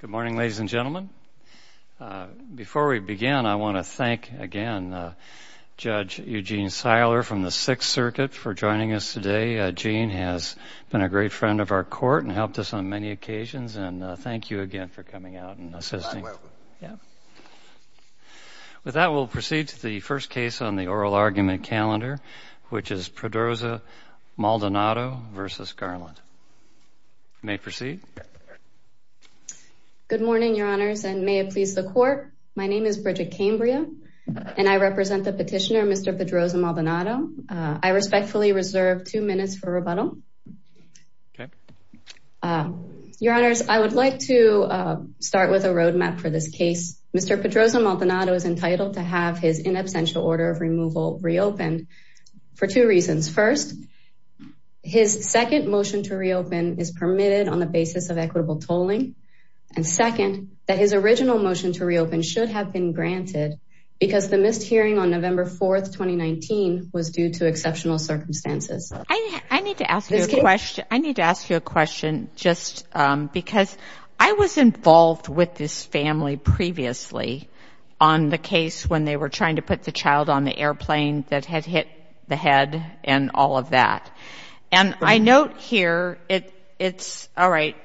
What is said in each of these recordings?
Good morning, ladies and gentlemen. Before we begin, I want to thank again Judge Eugene Seiler from the Sixth Circuit for joining us today. Gene has been a great friend of our court and helped us on many occasions, and thank you again for coming out and assisting. With that, we'll proceed to the first case on the oral argument calendar, which is Pedroza-Maldonado v. Garland. You may proceed. Bridget Cambria Good morning, Your Honors, and may it please the Court. My name is Bridget Cambria, and I represent the petitioner, Mr. Pedroza-Maldonado. I respectfully reserve two minutes for rebuttal. Your Honors, I would like to start with a roadmap for this case. Mr. Pedroza-Maldonado is entitled to have his in absentia order of removal reopened for two reasons. First, his second motion to reopen is permitted on the basis of equitable tolling, and second, that his original motion to reopen should have been granted because the missed hearing on November 4, 2019, was due to exceptional circumstances. Judge Seiler I need to ask you a question, just because I was involved with this family previously on the case when they were trying to put the airplane that had hit the head and all of that. And I note here, it's, all right,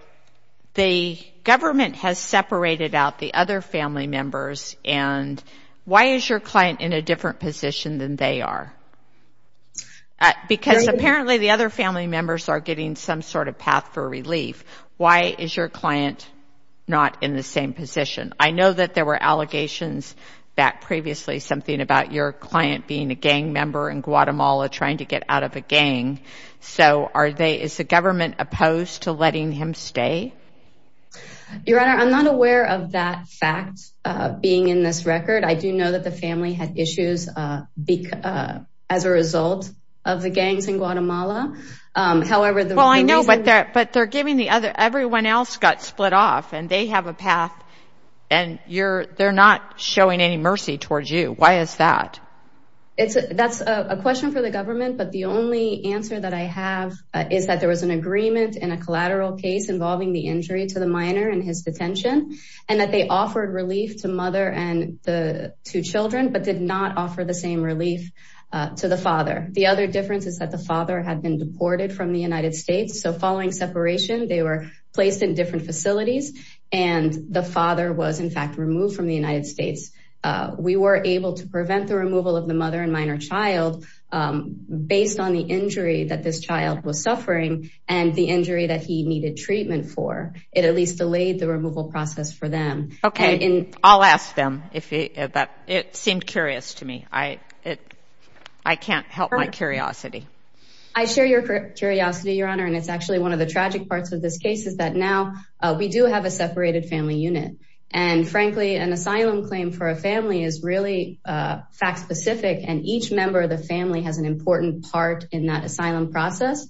the government has separated out the other family members and why is your client in a different position than they are? Because apparently the other family members are getting some sort of path for relief. Why is your client not in the same position? I know that there were allegations back previously, something about your client being a gang member in Guatemala trying to get out of a gang. So are they, is the government opposed to letting him stay? Judge Seiler Your Honor, I'm not aware of that fact being in this record. I do know that the family had issues as a result of the gangs in Guatemala. However, the reason... Judge Seiler Well, I know, but they're, but they're giving the other, everyone else got split off and they have a path and you're, they're not showing any mercy towards you. Why is that? Judge Seiler It's a, that's a question for the government, but the only answer that I have is that there was an agreement in a collateral case involving the injury to the minor and his detention and that they offered relief to mother and the two children, but did not offer the same relief to the father. The other difference is that the father had been deported from the United States. So following separation, they were placed in different facilities and the father was in fact removed from the United States. We were able to prevent the removal of the mother and minor child based on the injury that this child was suffering and the injury that he needed treatment for. It at least delayed the removal process for them. And in... Judge Seiler Okay, I'll ask them if that, it seemed curious to me. I, it, I can't help my curiosity. Judge Seiler I share your curiosity, Your Honor, and it's actually one of the tragic parts of this case is that now we do have a separated family unit and frankly, an asylum claim for a family is really fact specific and each member of the family has an important part in that asylum process.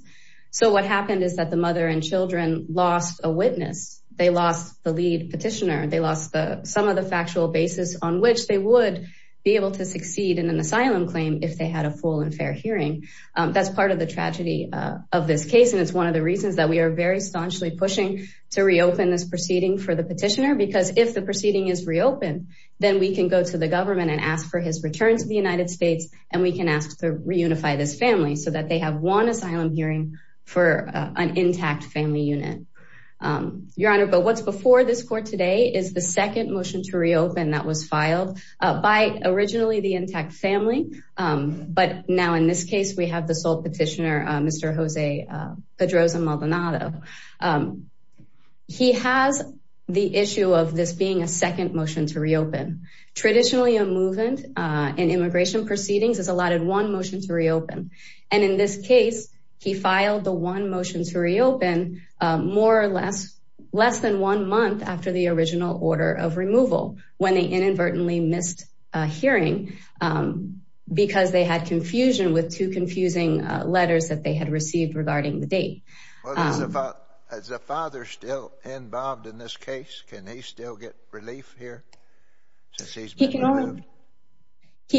So what happened is that the mother and children lost a witness. They lost the lead petitioner. They lost the, some of the factual basis on which they would be able to succeed in an That's part of the tragedy of this case. And it's one of the reasons that we are very staunchly pushing to reopen this proceeding for the petitioner, because if the proceeding is reopened, then we can go to the government and ask for his return to the United States and we can ask to reunify this family so that they have one asylum hearing for an intact family unit, Your Honor. But what's before this court today is the second motion to reopen that was filed by originally the intact family. But now in this case, we have the sole petitioner, Mr. Jose Pedroza Maldonado. He has the issue of this being a second motion to reopen. Traditionally a movement in immigration proceedings is allotted one motion to reopen. And in this case, he filed the one motion to reopen more or less, less than one month after the original order of removal when they inadvertently missed a hearing because they had confusion with two confusing letters that they had received regarding the date. Well, as a father still involved in this case, can he still get relief here? He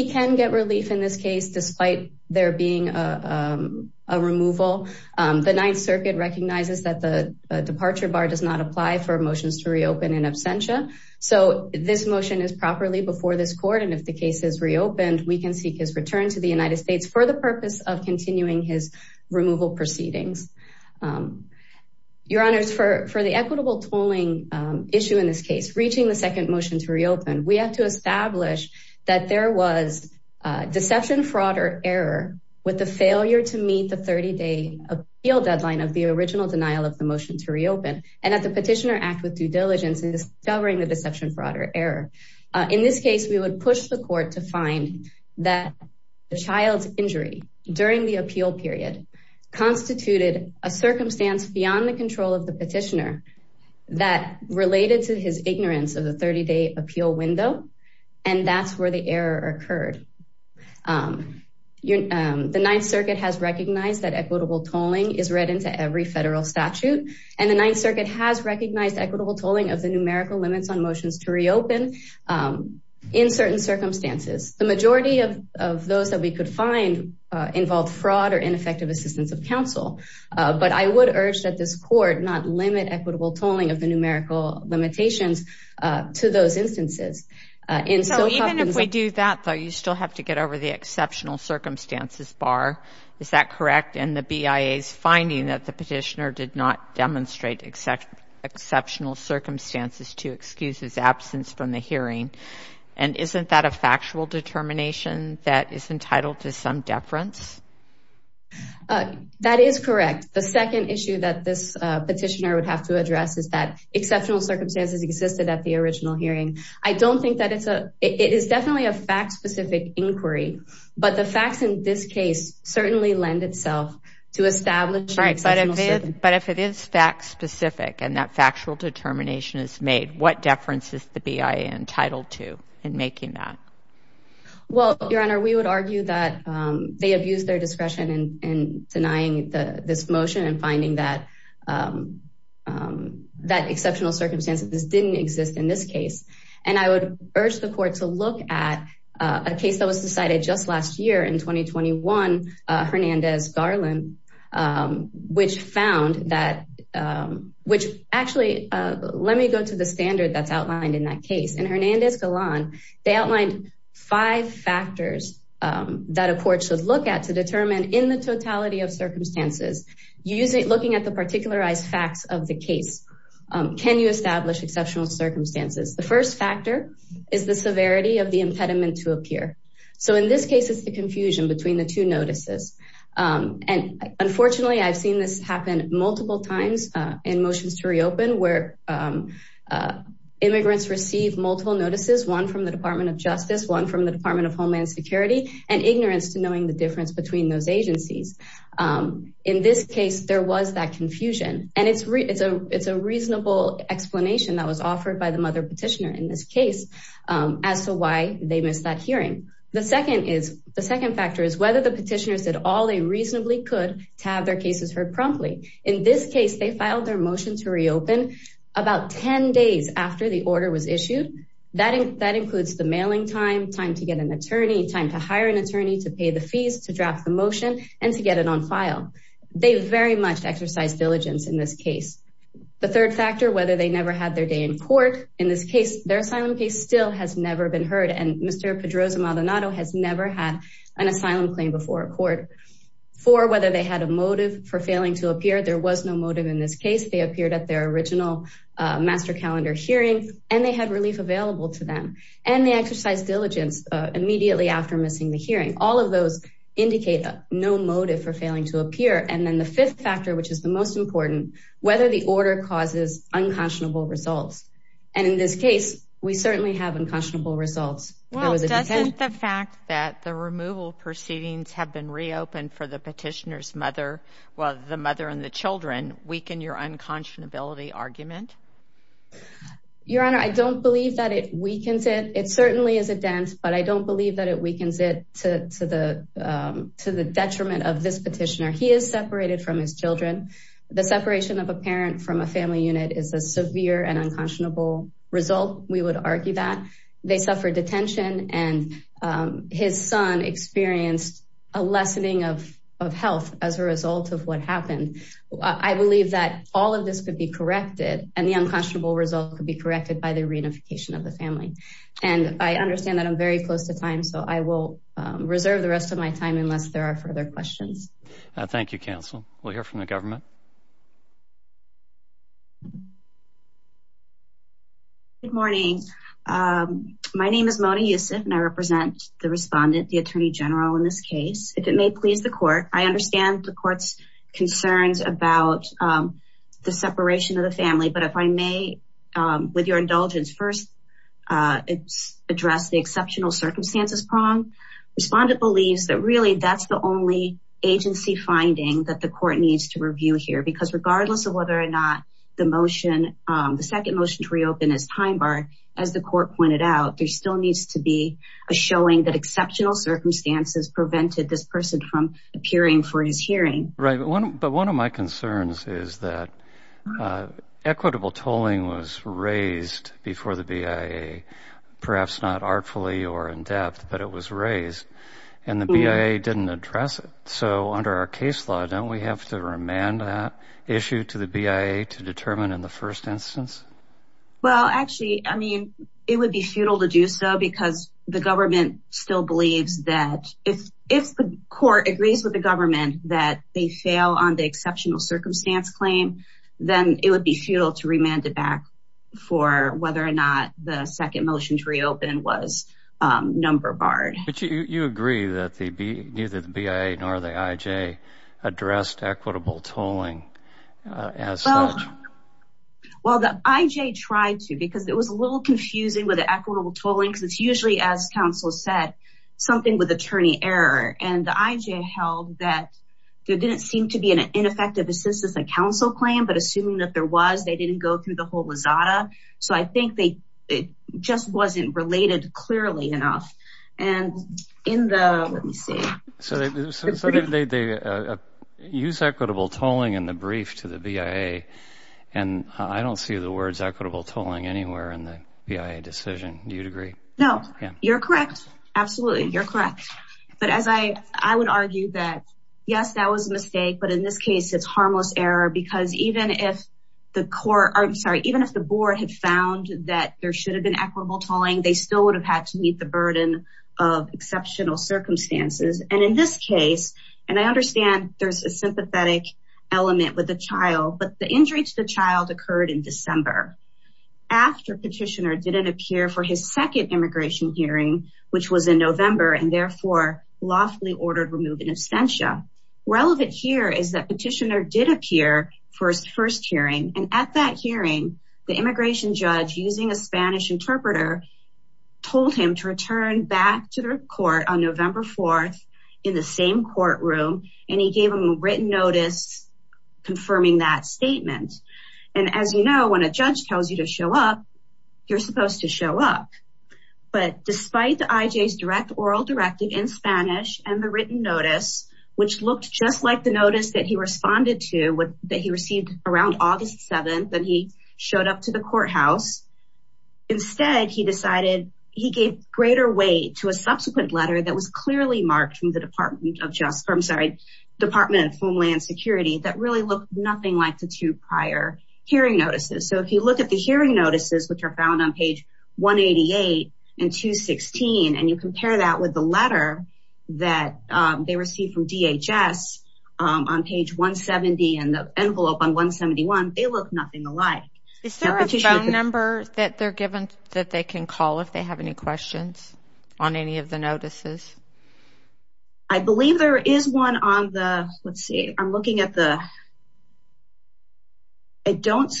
can get relief in this case, despite there being a removal, the Ninth Circuit recognizes that the departure bar does not apply for motions to reopen in absentia. So this motion is properly before this court and if the case is reopened, we can seek his return to the United States for the purpose of continuing his removal proceedings. Your Honor, for the equitable tolling issue in this case, reaching the second motion to reopen, we have to establish that there was deception, fraud or error with the failure to meet the 30 day appeal deadline of the original denial of the motion to reopen and that the petitioner act with due diligence in discovering the deception, fraud or error. In this case, we would push the court to find that the child's injury during the appeal period constituted a circumstance beyond the control of the petitioner that related to his ignorance of the 30 day appeal window. And that's where the error occurred. Your Honor, the Ninth Circuit has recognized that equitable tolling is read into every federal statute and the Ninth Circuit has recognized equitable tolling of the numerical limits on motions to reopen in certain circumstances. The majority of those that we could find involved fraud or ineffective assistance of counsel. But I would urge that this court not limit equitable tolling of the numerical limitations to those instances. So even if we do that, you still have to get over the exceptional circumstances bar. Is that correct? And the BIA's finding that the petitioner did not demonstrate exceptional circumstances to excuse his absence from the hearing. And isn't that a factual determination that is entitled to some deference? That is correct. The second issue that this petitioner would have to address is that exceptional circumstances existed at the original hearing. I don't think that it's a, it is definitely a fact specific inquiry, but the facts in this case certainly lend itself to establish. But if it is fact specific and that factual determination is made, what deference is the BIA entitled to in making that? Well, Your Honor, we would argue that they abuse their discretion in denying this motion and finding that exceptional circumstances didn't exist in this case. And I would urge the court to look at a case that was decided just last year in 2021, Hernandez-Garland, which found that, which actually, let me go to the standard that's outlined in that case. In Hernandez-Garland, they outlined five factors that a court should look at to determine in the totality of circumstances, looking at the particularized facts of the case. Can you establish exceptional circumstances? The first factor is the severity of the impediment to appear. So in this case, it's the confusion between the two notices. And unfortunately, I've seen this happen multiple times in motions to reopen where immigrants receive multiple notices, one from the Department of Justice, one from the Department of Homeland Security, and ignorance to knowing the difference between those agencies. In this case, there was that confusion, and it's a reasonable explanation that was offered by the mother petitioner in this case as to why they missed that hearing. The second factor is whether the petitioners did all they reasonably could to have their cases heard promptly. In this case, they filed their motion to reopen about 10 days after the order was issued. That includes the mailing time, time to get an attorney, time to hire an attorney, to pay the fees, to draft the motion, and to get it on file. They very much exercised diligence in this case. The third factor, whether they never had their day in court. In this case, their asylum case still has never been heard, and Mr. Pedroza-Maldonado has never had an asylum claim before a court. Four, whether they had a motive for failing to appear. There was no motive in this case. They appeared at their original master calendar hearing, and they had relief available to them. And they exercised diligence immediately after missing the hearing. All of those indicate no motive for failing to appear. And then the fifth factor, which is the most important, whether the order causes unconscionable results. And in this case, we certainly have unconscionable results. Well, doesn't the fact that the removal proceedings have been reopened for the petitioner's mother, well, the mother and the children, weaken your unconscionability argument? Your Honor, I don't believe that it weakens it. It certainly is a dent, but I don't believe that it weakens it to the detriment of this petitioner. He is separated from his children. The separation of a parent from a family unit is a severe and unconscionable result. We would argue that. They suffered detention, and his son experienced a lessening of health as a result of what happened. I believe that all of this could be corrected, and the unconscionable result could be corrected by the reunification of the family. And I understand that I'm very close to time, so I will reserve the rest of my time unless there are further questions. Thank you, counsel. We'll hear from the government. Good morning. My name is Mona Youssef, and I represent the respondent, the Attorney General, in this case. If it may please the court, I understand the court's concerns about the separation of the family, but if I may, with your indulgence, first address the exceptional circumstances prong. Respondent believes that really that's the only agency finding that the court needs to review here, because regardless of whether or not the motion, the second motion to reopen is time barred, as the court pointed out, there still needs to be a showing that exceptional circumstances prevented this person from appearing for his hearing. Right. But one of my concerns is that equitable tolling was raised before the BIA, perhaps not artfully or in depth, but it was raised, and the BIA didn't address it. So under our case law, don't we have to remand that issue to the BIA to determine in the first instance? Well, actually, I mean, it would be futile to do so, because the government still believes that if the court agrees with the government that they fail on the exceptional circumstance claim, then it would be futile to remand it back for whether or not the second motion to reopen was number barred. You agree that neither the BIA nor the IJ addressed equitable tolling as such? Well, the IJ tried to, because it was a little confusing with the equitable tolling, because it's usually, as counsel said, something with attorney error. And the IJ held that there didn't seem to be an ineffective assistance in counsel claim, but assuming that there was, they didn't go through the whole Rosada. So I think it just wasn't related clearly enough. So they use equitable tolling in the brief to the BIA, and I don't see the words equitable tolling anywhere in the BIA decision. Do you agree? No. You're correct. Absolutely. You're correct. But as I would argue that, yes, that was a mistake, but in this case, it's harmless error, because even if the board had found that there should have been equitable tolling, they still would have had to meet the burden of exceptional circumstances. And in this case, and I understand there's a sympathetic element with the child, but the injury to the child occurred in December, after petitioner didn't appear for his second immigration hearing, which was in November, and therefore, lawfully ordered removal abstentia. Relevant here is that petitioner did appear for his first hearing, and at that hearing, the immigration judge, using a Spanish interpreter, told him to return back to the court on November 4th in the same courtroom, and he gave him a written notice confirming that statement. And as you know, when a judge tells you to show up, you're supposed to show up. But despite the IJ's direct oral directive in Spanish and the written notice, which looked just like the notice that he responded to, that he received around August 7th, and he showed up to the courthouse, instead, he decided he gave greater weight to a subsequent letter that was clearly marked from the Department of Homeland Security that really looked nothing like the two prior hearing notices. So if you look at the hearing notices, which are found on page 188 and 216, and you compare that with the letter that they received from DHS on page 170 and the envelope on 171, they look nothing alike. Is there a phone number that they're given that they can call if they have any questions on any of the notices? I believe there is one on the, let's see, I'm looking at the, I don't,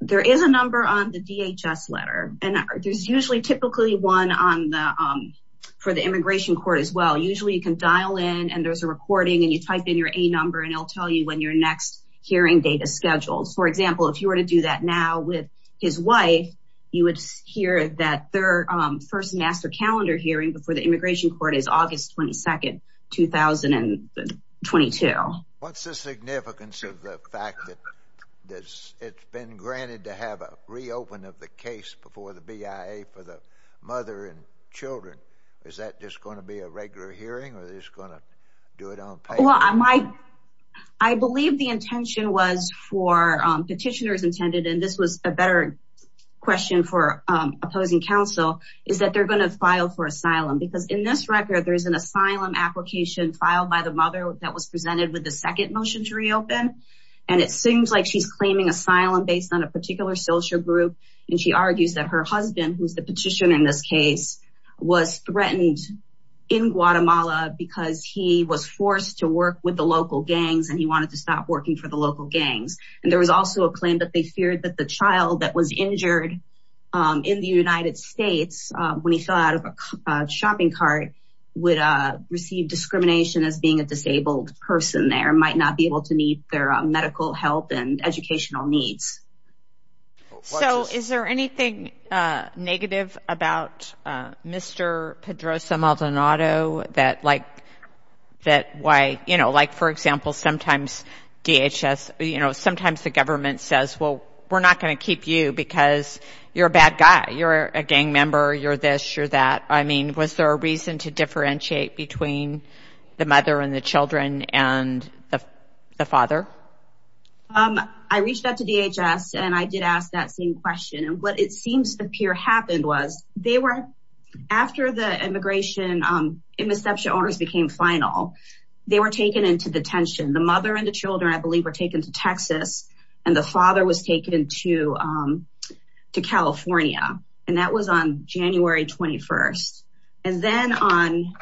there is a number on the DHS letter, and there's usually typically one on the, for the immigration court as well. Usually you can dial in and there's a recording and you type in your A number and it'll tell you when your next hearing date is scheduled. For example, if you were to do that now with his wife, you would hear that their first master calendar hearing before the immigration court is August 22nd, 2022. What's the significance of the fact that it's been granted to have a reopen of the case before the BIA for the mother and children? Is that just going to be a regular hearing or is it just going to do it on paper? I believe the intention was for, petitioners intended, and this was a better question for opposing counsel, is that they're going to file for asylum. Because in this record, there is an asylum application filed by the mother that was presented with the second motion to reopen. And it seems like she's claiming asylum based on a particular social group. And she argues that her husband, who's the petitioner in this case, was threatened in Guatemala because he was forced to work with the local gangs and he wanted to stop working for the local gangs. And there was also a claim that they feared that the child that was injured in the United States, when he fell out of a shopping cart, would receive discrimination as being a disabled person there, might not be able to meet their medical help and educational needs. So is there anything negative about Mr. Pedroza-Maldonado that like, that why, you know, like, for example, sometimes DHS, you know, sometimes the government says, well, we're not going to keep you because you're a gang member, you're this, you're that. I mean, was there a reason to differentiate between the mother and the children and the father? I reached out to DHS and I did ask that same question. And what it seems to appear happened was they were, after the immigration and reception orders became final, they were taken into detention. The mother and the children, I believe, were taken to Texas and the father was taken to California. And that was on January 21st. And then on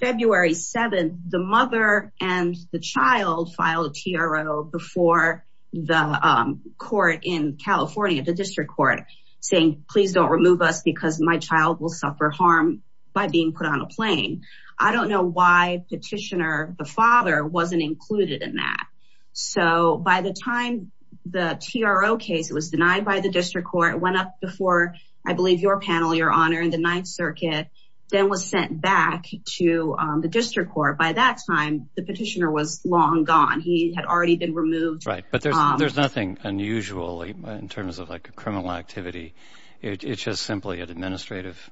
February 7th, the mother and the child filed a TRO before the court in California, the district court, saying, please don't remove us because my child will suffer harm by being put on a plane. I don't know why petitioner, the father, wasn't included in that. So by the time the TRO case was denied by the district court, it went up before, I believe, your panel, your honor, in the Ninth Circuit, then was sent back to the district court. By that time, the petitioner was long gone. He had already been removed. Right. But there's nothing unusual in terms of like a criminal activity. It's just simply an administrative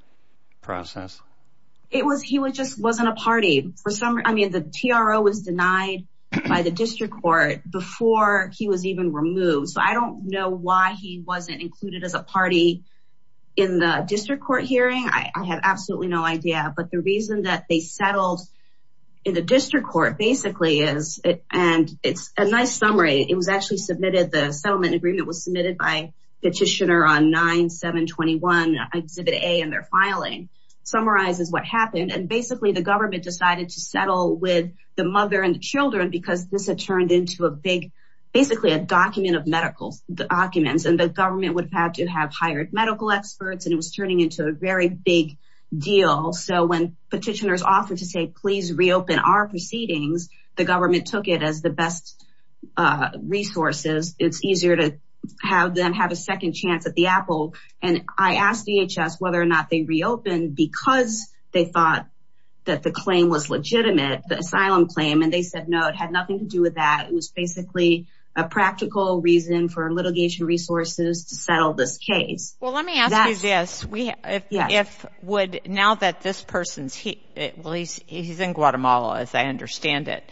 process. It was he was just wasn't a party for some. I mean, the TRO was denied by the district court before he was even removed. So I don't know why he wasn't included as a party in the district court hearing. I have absolutely no idea. But the reason that they settled in the district court basically is and it's a nice summary. It was actually submitted. The settlement agreement was submitted by petitioner on 9721, Exhibit A in their filing summarizes what happened. And basically the government decided to settle with the mother and children because this had turned into a big basically a document of medical documents and the government would have to have hired medical experts. And it was turning into a very big deal. So when petitioners offered to say, please reopen our proceedings, the government took it as the best resources. It's easier to have them have a second chance at the apple. And I asked DHS whether or not they reopened because they thought that the claim was legitimate, the asylum claim. And they said, no, it had nothing to do with that. It was basically a practical reason for litigation resources to settle this case. Well, let me ask you this. We if would now that this person's he at least he's in Guatemala, as I understand it.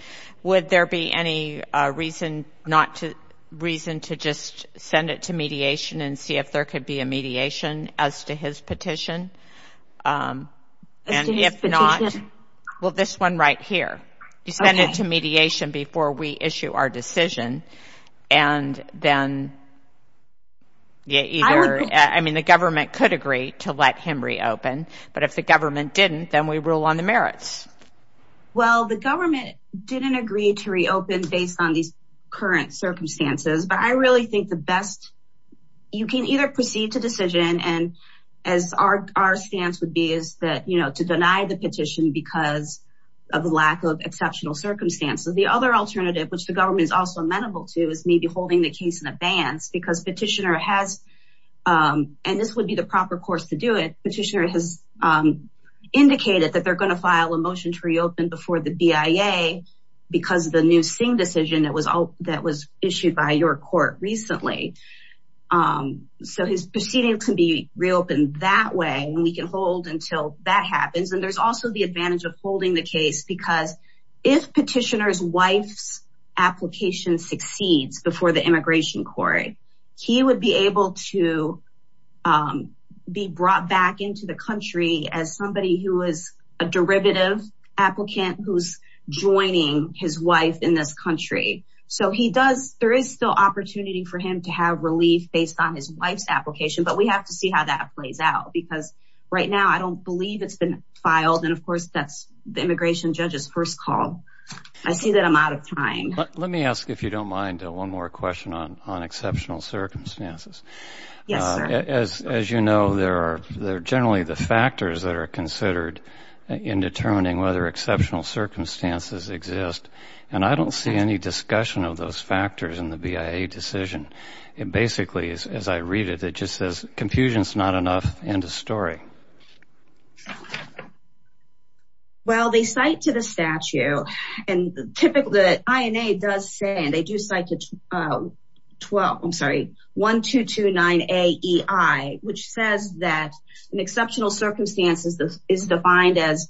Would there be any reason not to reason to just send it to mediation and see if there could be a mediation as to his petition? And if not, well, this one right here, you send it to mediation before we issue our decision and then. Yeah, either I mean, the government could agree to let him reopen, but if the government didn't, then we rule on the merits. Well, the government didn't agree to reopen based on these current circumstances. But I really think the best you can either proceed to decision and as our stance would be is that, you know, to deny the petition because of the lack of exceptional circumstances. The other alternative, which the government is also amenable to, is maybe holding the case in advance because petitioner has and this would be the proper course to do it. Petitioner has indicated that they're going to file a motion to reopen before the CIA because of the new Singh decision that was that was issued by your court recently. So his proceeding can be reopened that way and we can hold until that happens. And there's also the advantage of holding the case because if petitioner's wife's application succeeds before the immigration court, he would be able to be brought back into the country as somebody who is a derivative applicant who's joining his wife in this country. So he does there is still opportunity for him to have relief based on his wife's application. But we have to see how that plays out, because right now I don't believe it's been filed. And of course, that's the immigration judge's first call. I see that I'm out of time. Let me ask, if you don't mind, one more question on on exceptional circumstances. Yes. As you know, there are generally the factors that are considered in determining whether exceptional circumstances exist. And I don't see any discussion of those factors in the BIA decision. It basically is, as I read it, it just says confusion is not enough. End of story. Well, they cite to the statute and typically the INA does say they do cite to 12, I'm 229AEI, which says that in exceptional circumstances, this is defined as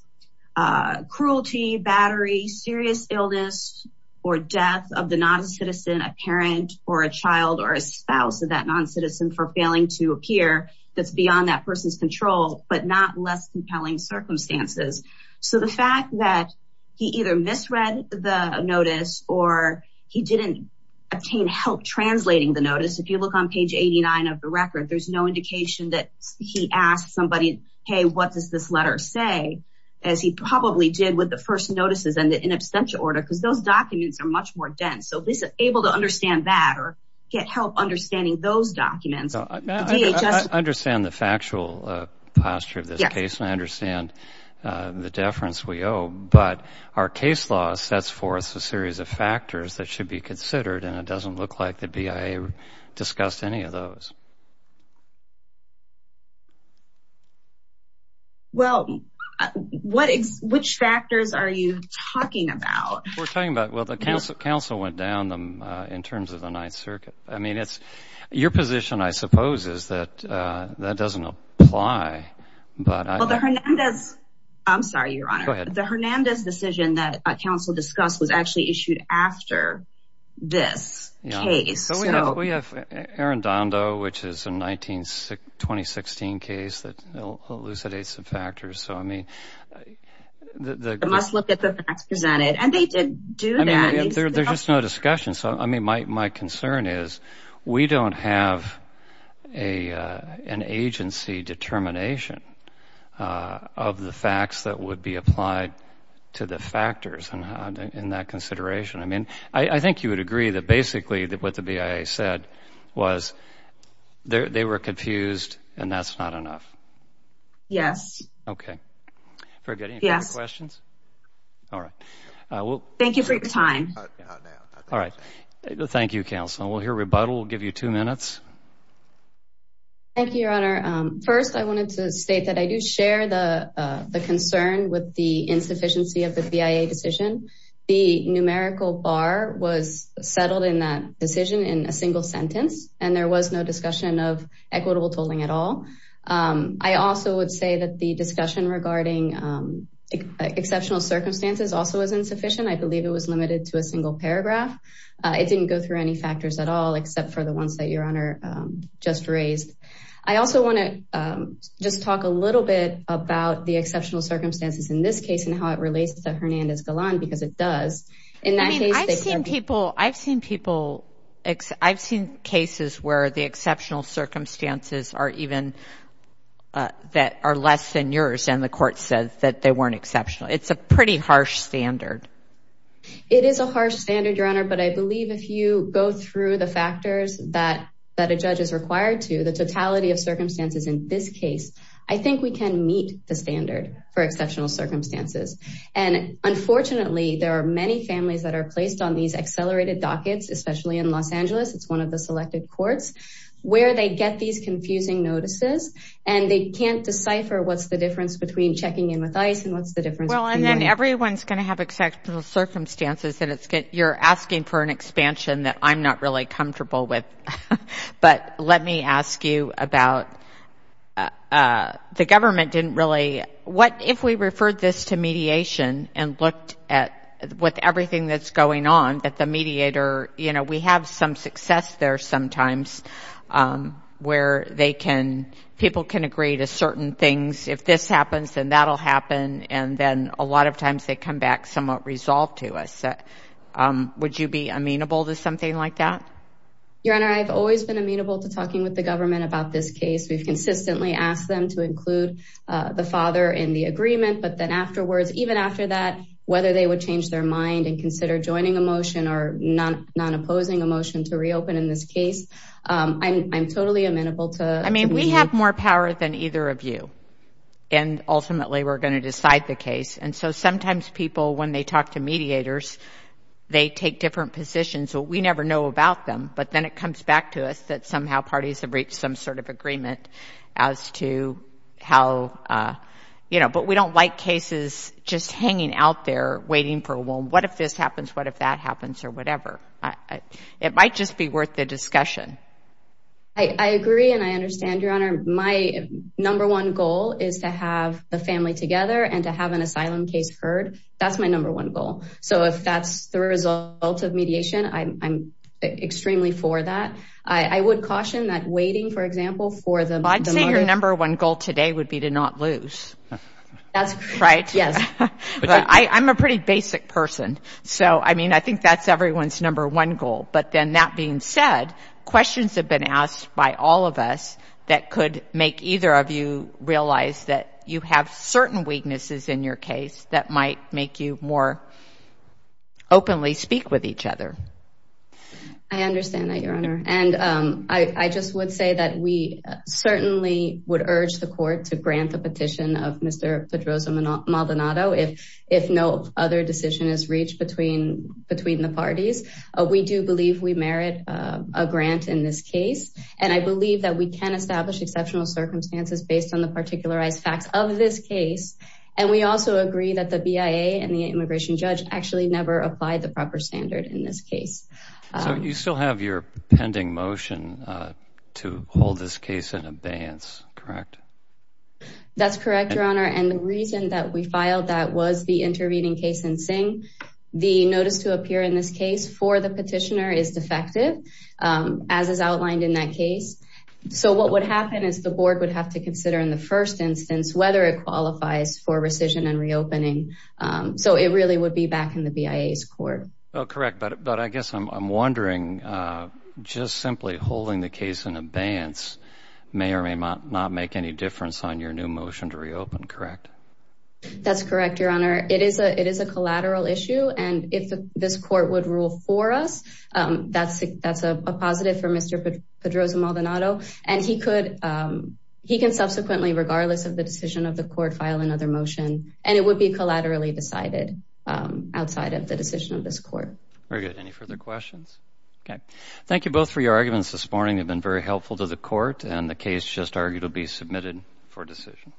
cruelty, battery, serious illness or death of the non-citizen, a parent or a child or a spouse of that non-citizen for failing to appear that's beyond that person's control, but not less compelling circumstances. So the fact that he either misread the notice or he didn't obtain help translating the record, there's no indication that he asked somebody, hey, what does this letter say, as he probably did with the first notices and the in absentia order, because those documents are much more dense. So this is able to understand that or get help understanding those documents. I understand the factual posture of this case, and I understand the deference we owe, but our case law sets forth a series of factors that should be discussed. Well, what is which factors are you talking about? We're talking about, well, the council went down in terms of the Ninth Circuit. I mean, it's your position, I suppose, is that that doesn't apply. But I'm sorry, Your Honor, the Hernandez decision that a council discussed was actually which is a 19, 2016 case that elucidates some factors. So, I mean, the must look at the facts presented and they did do that. There's just no discussion. So, I mean, my concern is we don't have a an agency determination of the facts that would be applied to the factors in that consideration. I mean, I think you would agree that basically that what the BIA said was they were confused and that's not enough. Yes. OK, very good. Yes. Questions. All right. Thank you for your time. All right. Thank you, counsel. We'll hear rebuttal. We'll give you two minutes. Thank you, Your Honor. First, I wanted to state that I do share the concern with the BIA that the total bar was settled in that decision in a single sentence and there was no discussion of equitable tolling at all. I also would say that the discussion regarding exceptional circumstances also was insufficient. I believe it was limited to a single paragraph. It didn't go through any factors at all, except for the ones that Your Honor just raised. I also want to just talk a little bit about the exceptional circumstances in this case and how it relates to Hernandez-Galan because it does. I mean, I've seen people, I've seen people, I've seen cases where the exceptional circumstances are even that are less than yours. And the court says that they weren't exceptional. It's a pretty harsh standard. It is a harsh standard, Your Honor. But I believe if you go through the factors that that a judge is required to, the totality of circumstances in this case, I think we can meet the standard for exceptional circumstances. And I think it's important to understand that there are so many families that are placed on these accelerated dockets, especially in Los Angeles, it's one of the selected courts, where they get these confusing notices and they can't decipher what's the difference between checking in with ICE and what's the difference. Well, and then everyone's going to have exceptional circumstances and it's good. You're asking for an expansion that I'm not really comfortable with. But let me ask you about the government didn't really, what if we referred this to mediation and looked at with everything that's going on, that the mediator, you know, we have some success there sometimes where they can, people can agree to certain things. If this happens, then that'll happen. And then a lot of times they come back somewhat resolved to us. Would you be amenable to something like that? Your Honor, I've always been amenable to talking with the government about this case. We've consistently asked them to include the father in the agreement. But then afterwards, even after that, whether they would change their mind and consider joining a motion or not, not opposing a motion to reopen in this case, I'm totally amenable to. I mean, we have more power than either of you. And ultimately, we're going to decide the case. And so sometimes people, when they talk to mediators, they take different positions. So we never know about them. But then it comes back to us that somehow parties have reached some sort of agreement as to how, you know, but we don't like cases just hanging out there waiting for a womb. What if this happens? What if that happens or whatever? It might just be worth the discussion. I agree and I understand, Your Honor, my number one goal is to have the family together and to have an asylum case heard. That's my number one goal. So if that's the result of mediation, I'm extremely for that. I would caution that waiting, for example, for them. I'd say your number one goal today would be to not lose. That's right. Yes. I'm a pretty basic person. So, I mean, I think that's everyone's number one goal. But then that being said, questions have been asked by all of us that could make either of you realize that you have certain weaknesses in your case that might make you more openly speak with each other. I understand that, Your Honor, and I just would say that we certainly would urge the court to grant the petition of Mr. Pedroza-Maldonado if no other decision is reached between the parties. We do believe we merit a grant in this case. And I believe that we can establish exceptional circumstances based on the particularized facts of this case. And we also agree that the BIA and the immigration judge actually never applied the proper standard in this case. So you still have your pending motion to hold this case in abeyance, correct? That's correct, Your Honor, and the reason that we filed that was the intervening case in Singh. The notice to appear in this case for the petitioner is defective, as is the case. So what would happen is the board would have to consider in the first instance whether it qualifies for rescission and reopening. So it really would be back in the BIA's court. Oh, correct. But I guess I'm wondering, just simply holding the case in abeyance may or may not make any difference on your new motion to reopen, correct? That's correct, Your Honor. It is a it is a collateral issue. And if this court would rule for us, that's that's a positive for Mr. Pedroza-Maldonado. And he could he can subsequently, regardless of the decision of the court, file another motion and it would be collaterally decided outside of the decision of this court. Very good. Any further questions? OK, thank you both for your arguments this morning. They've been very helpful to the court and the case just argued will be submitted for decision.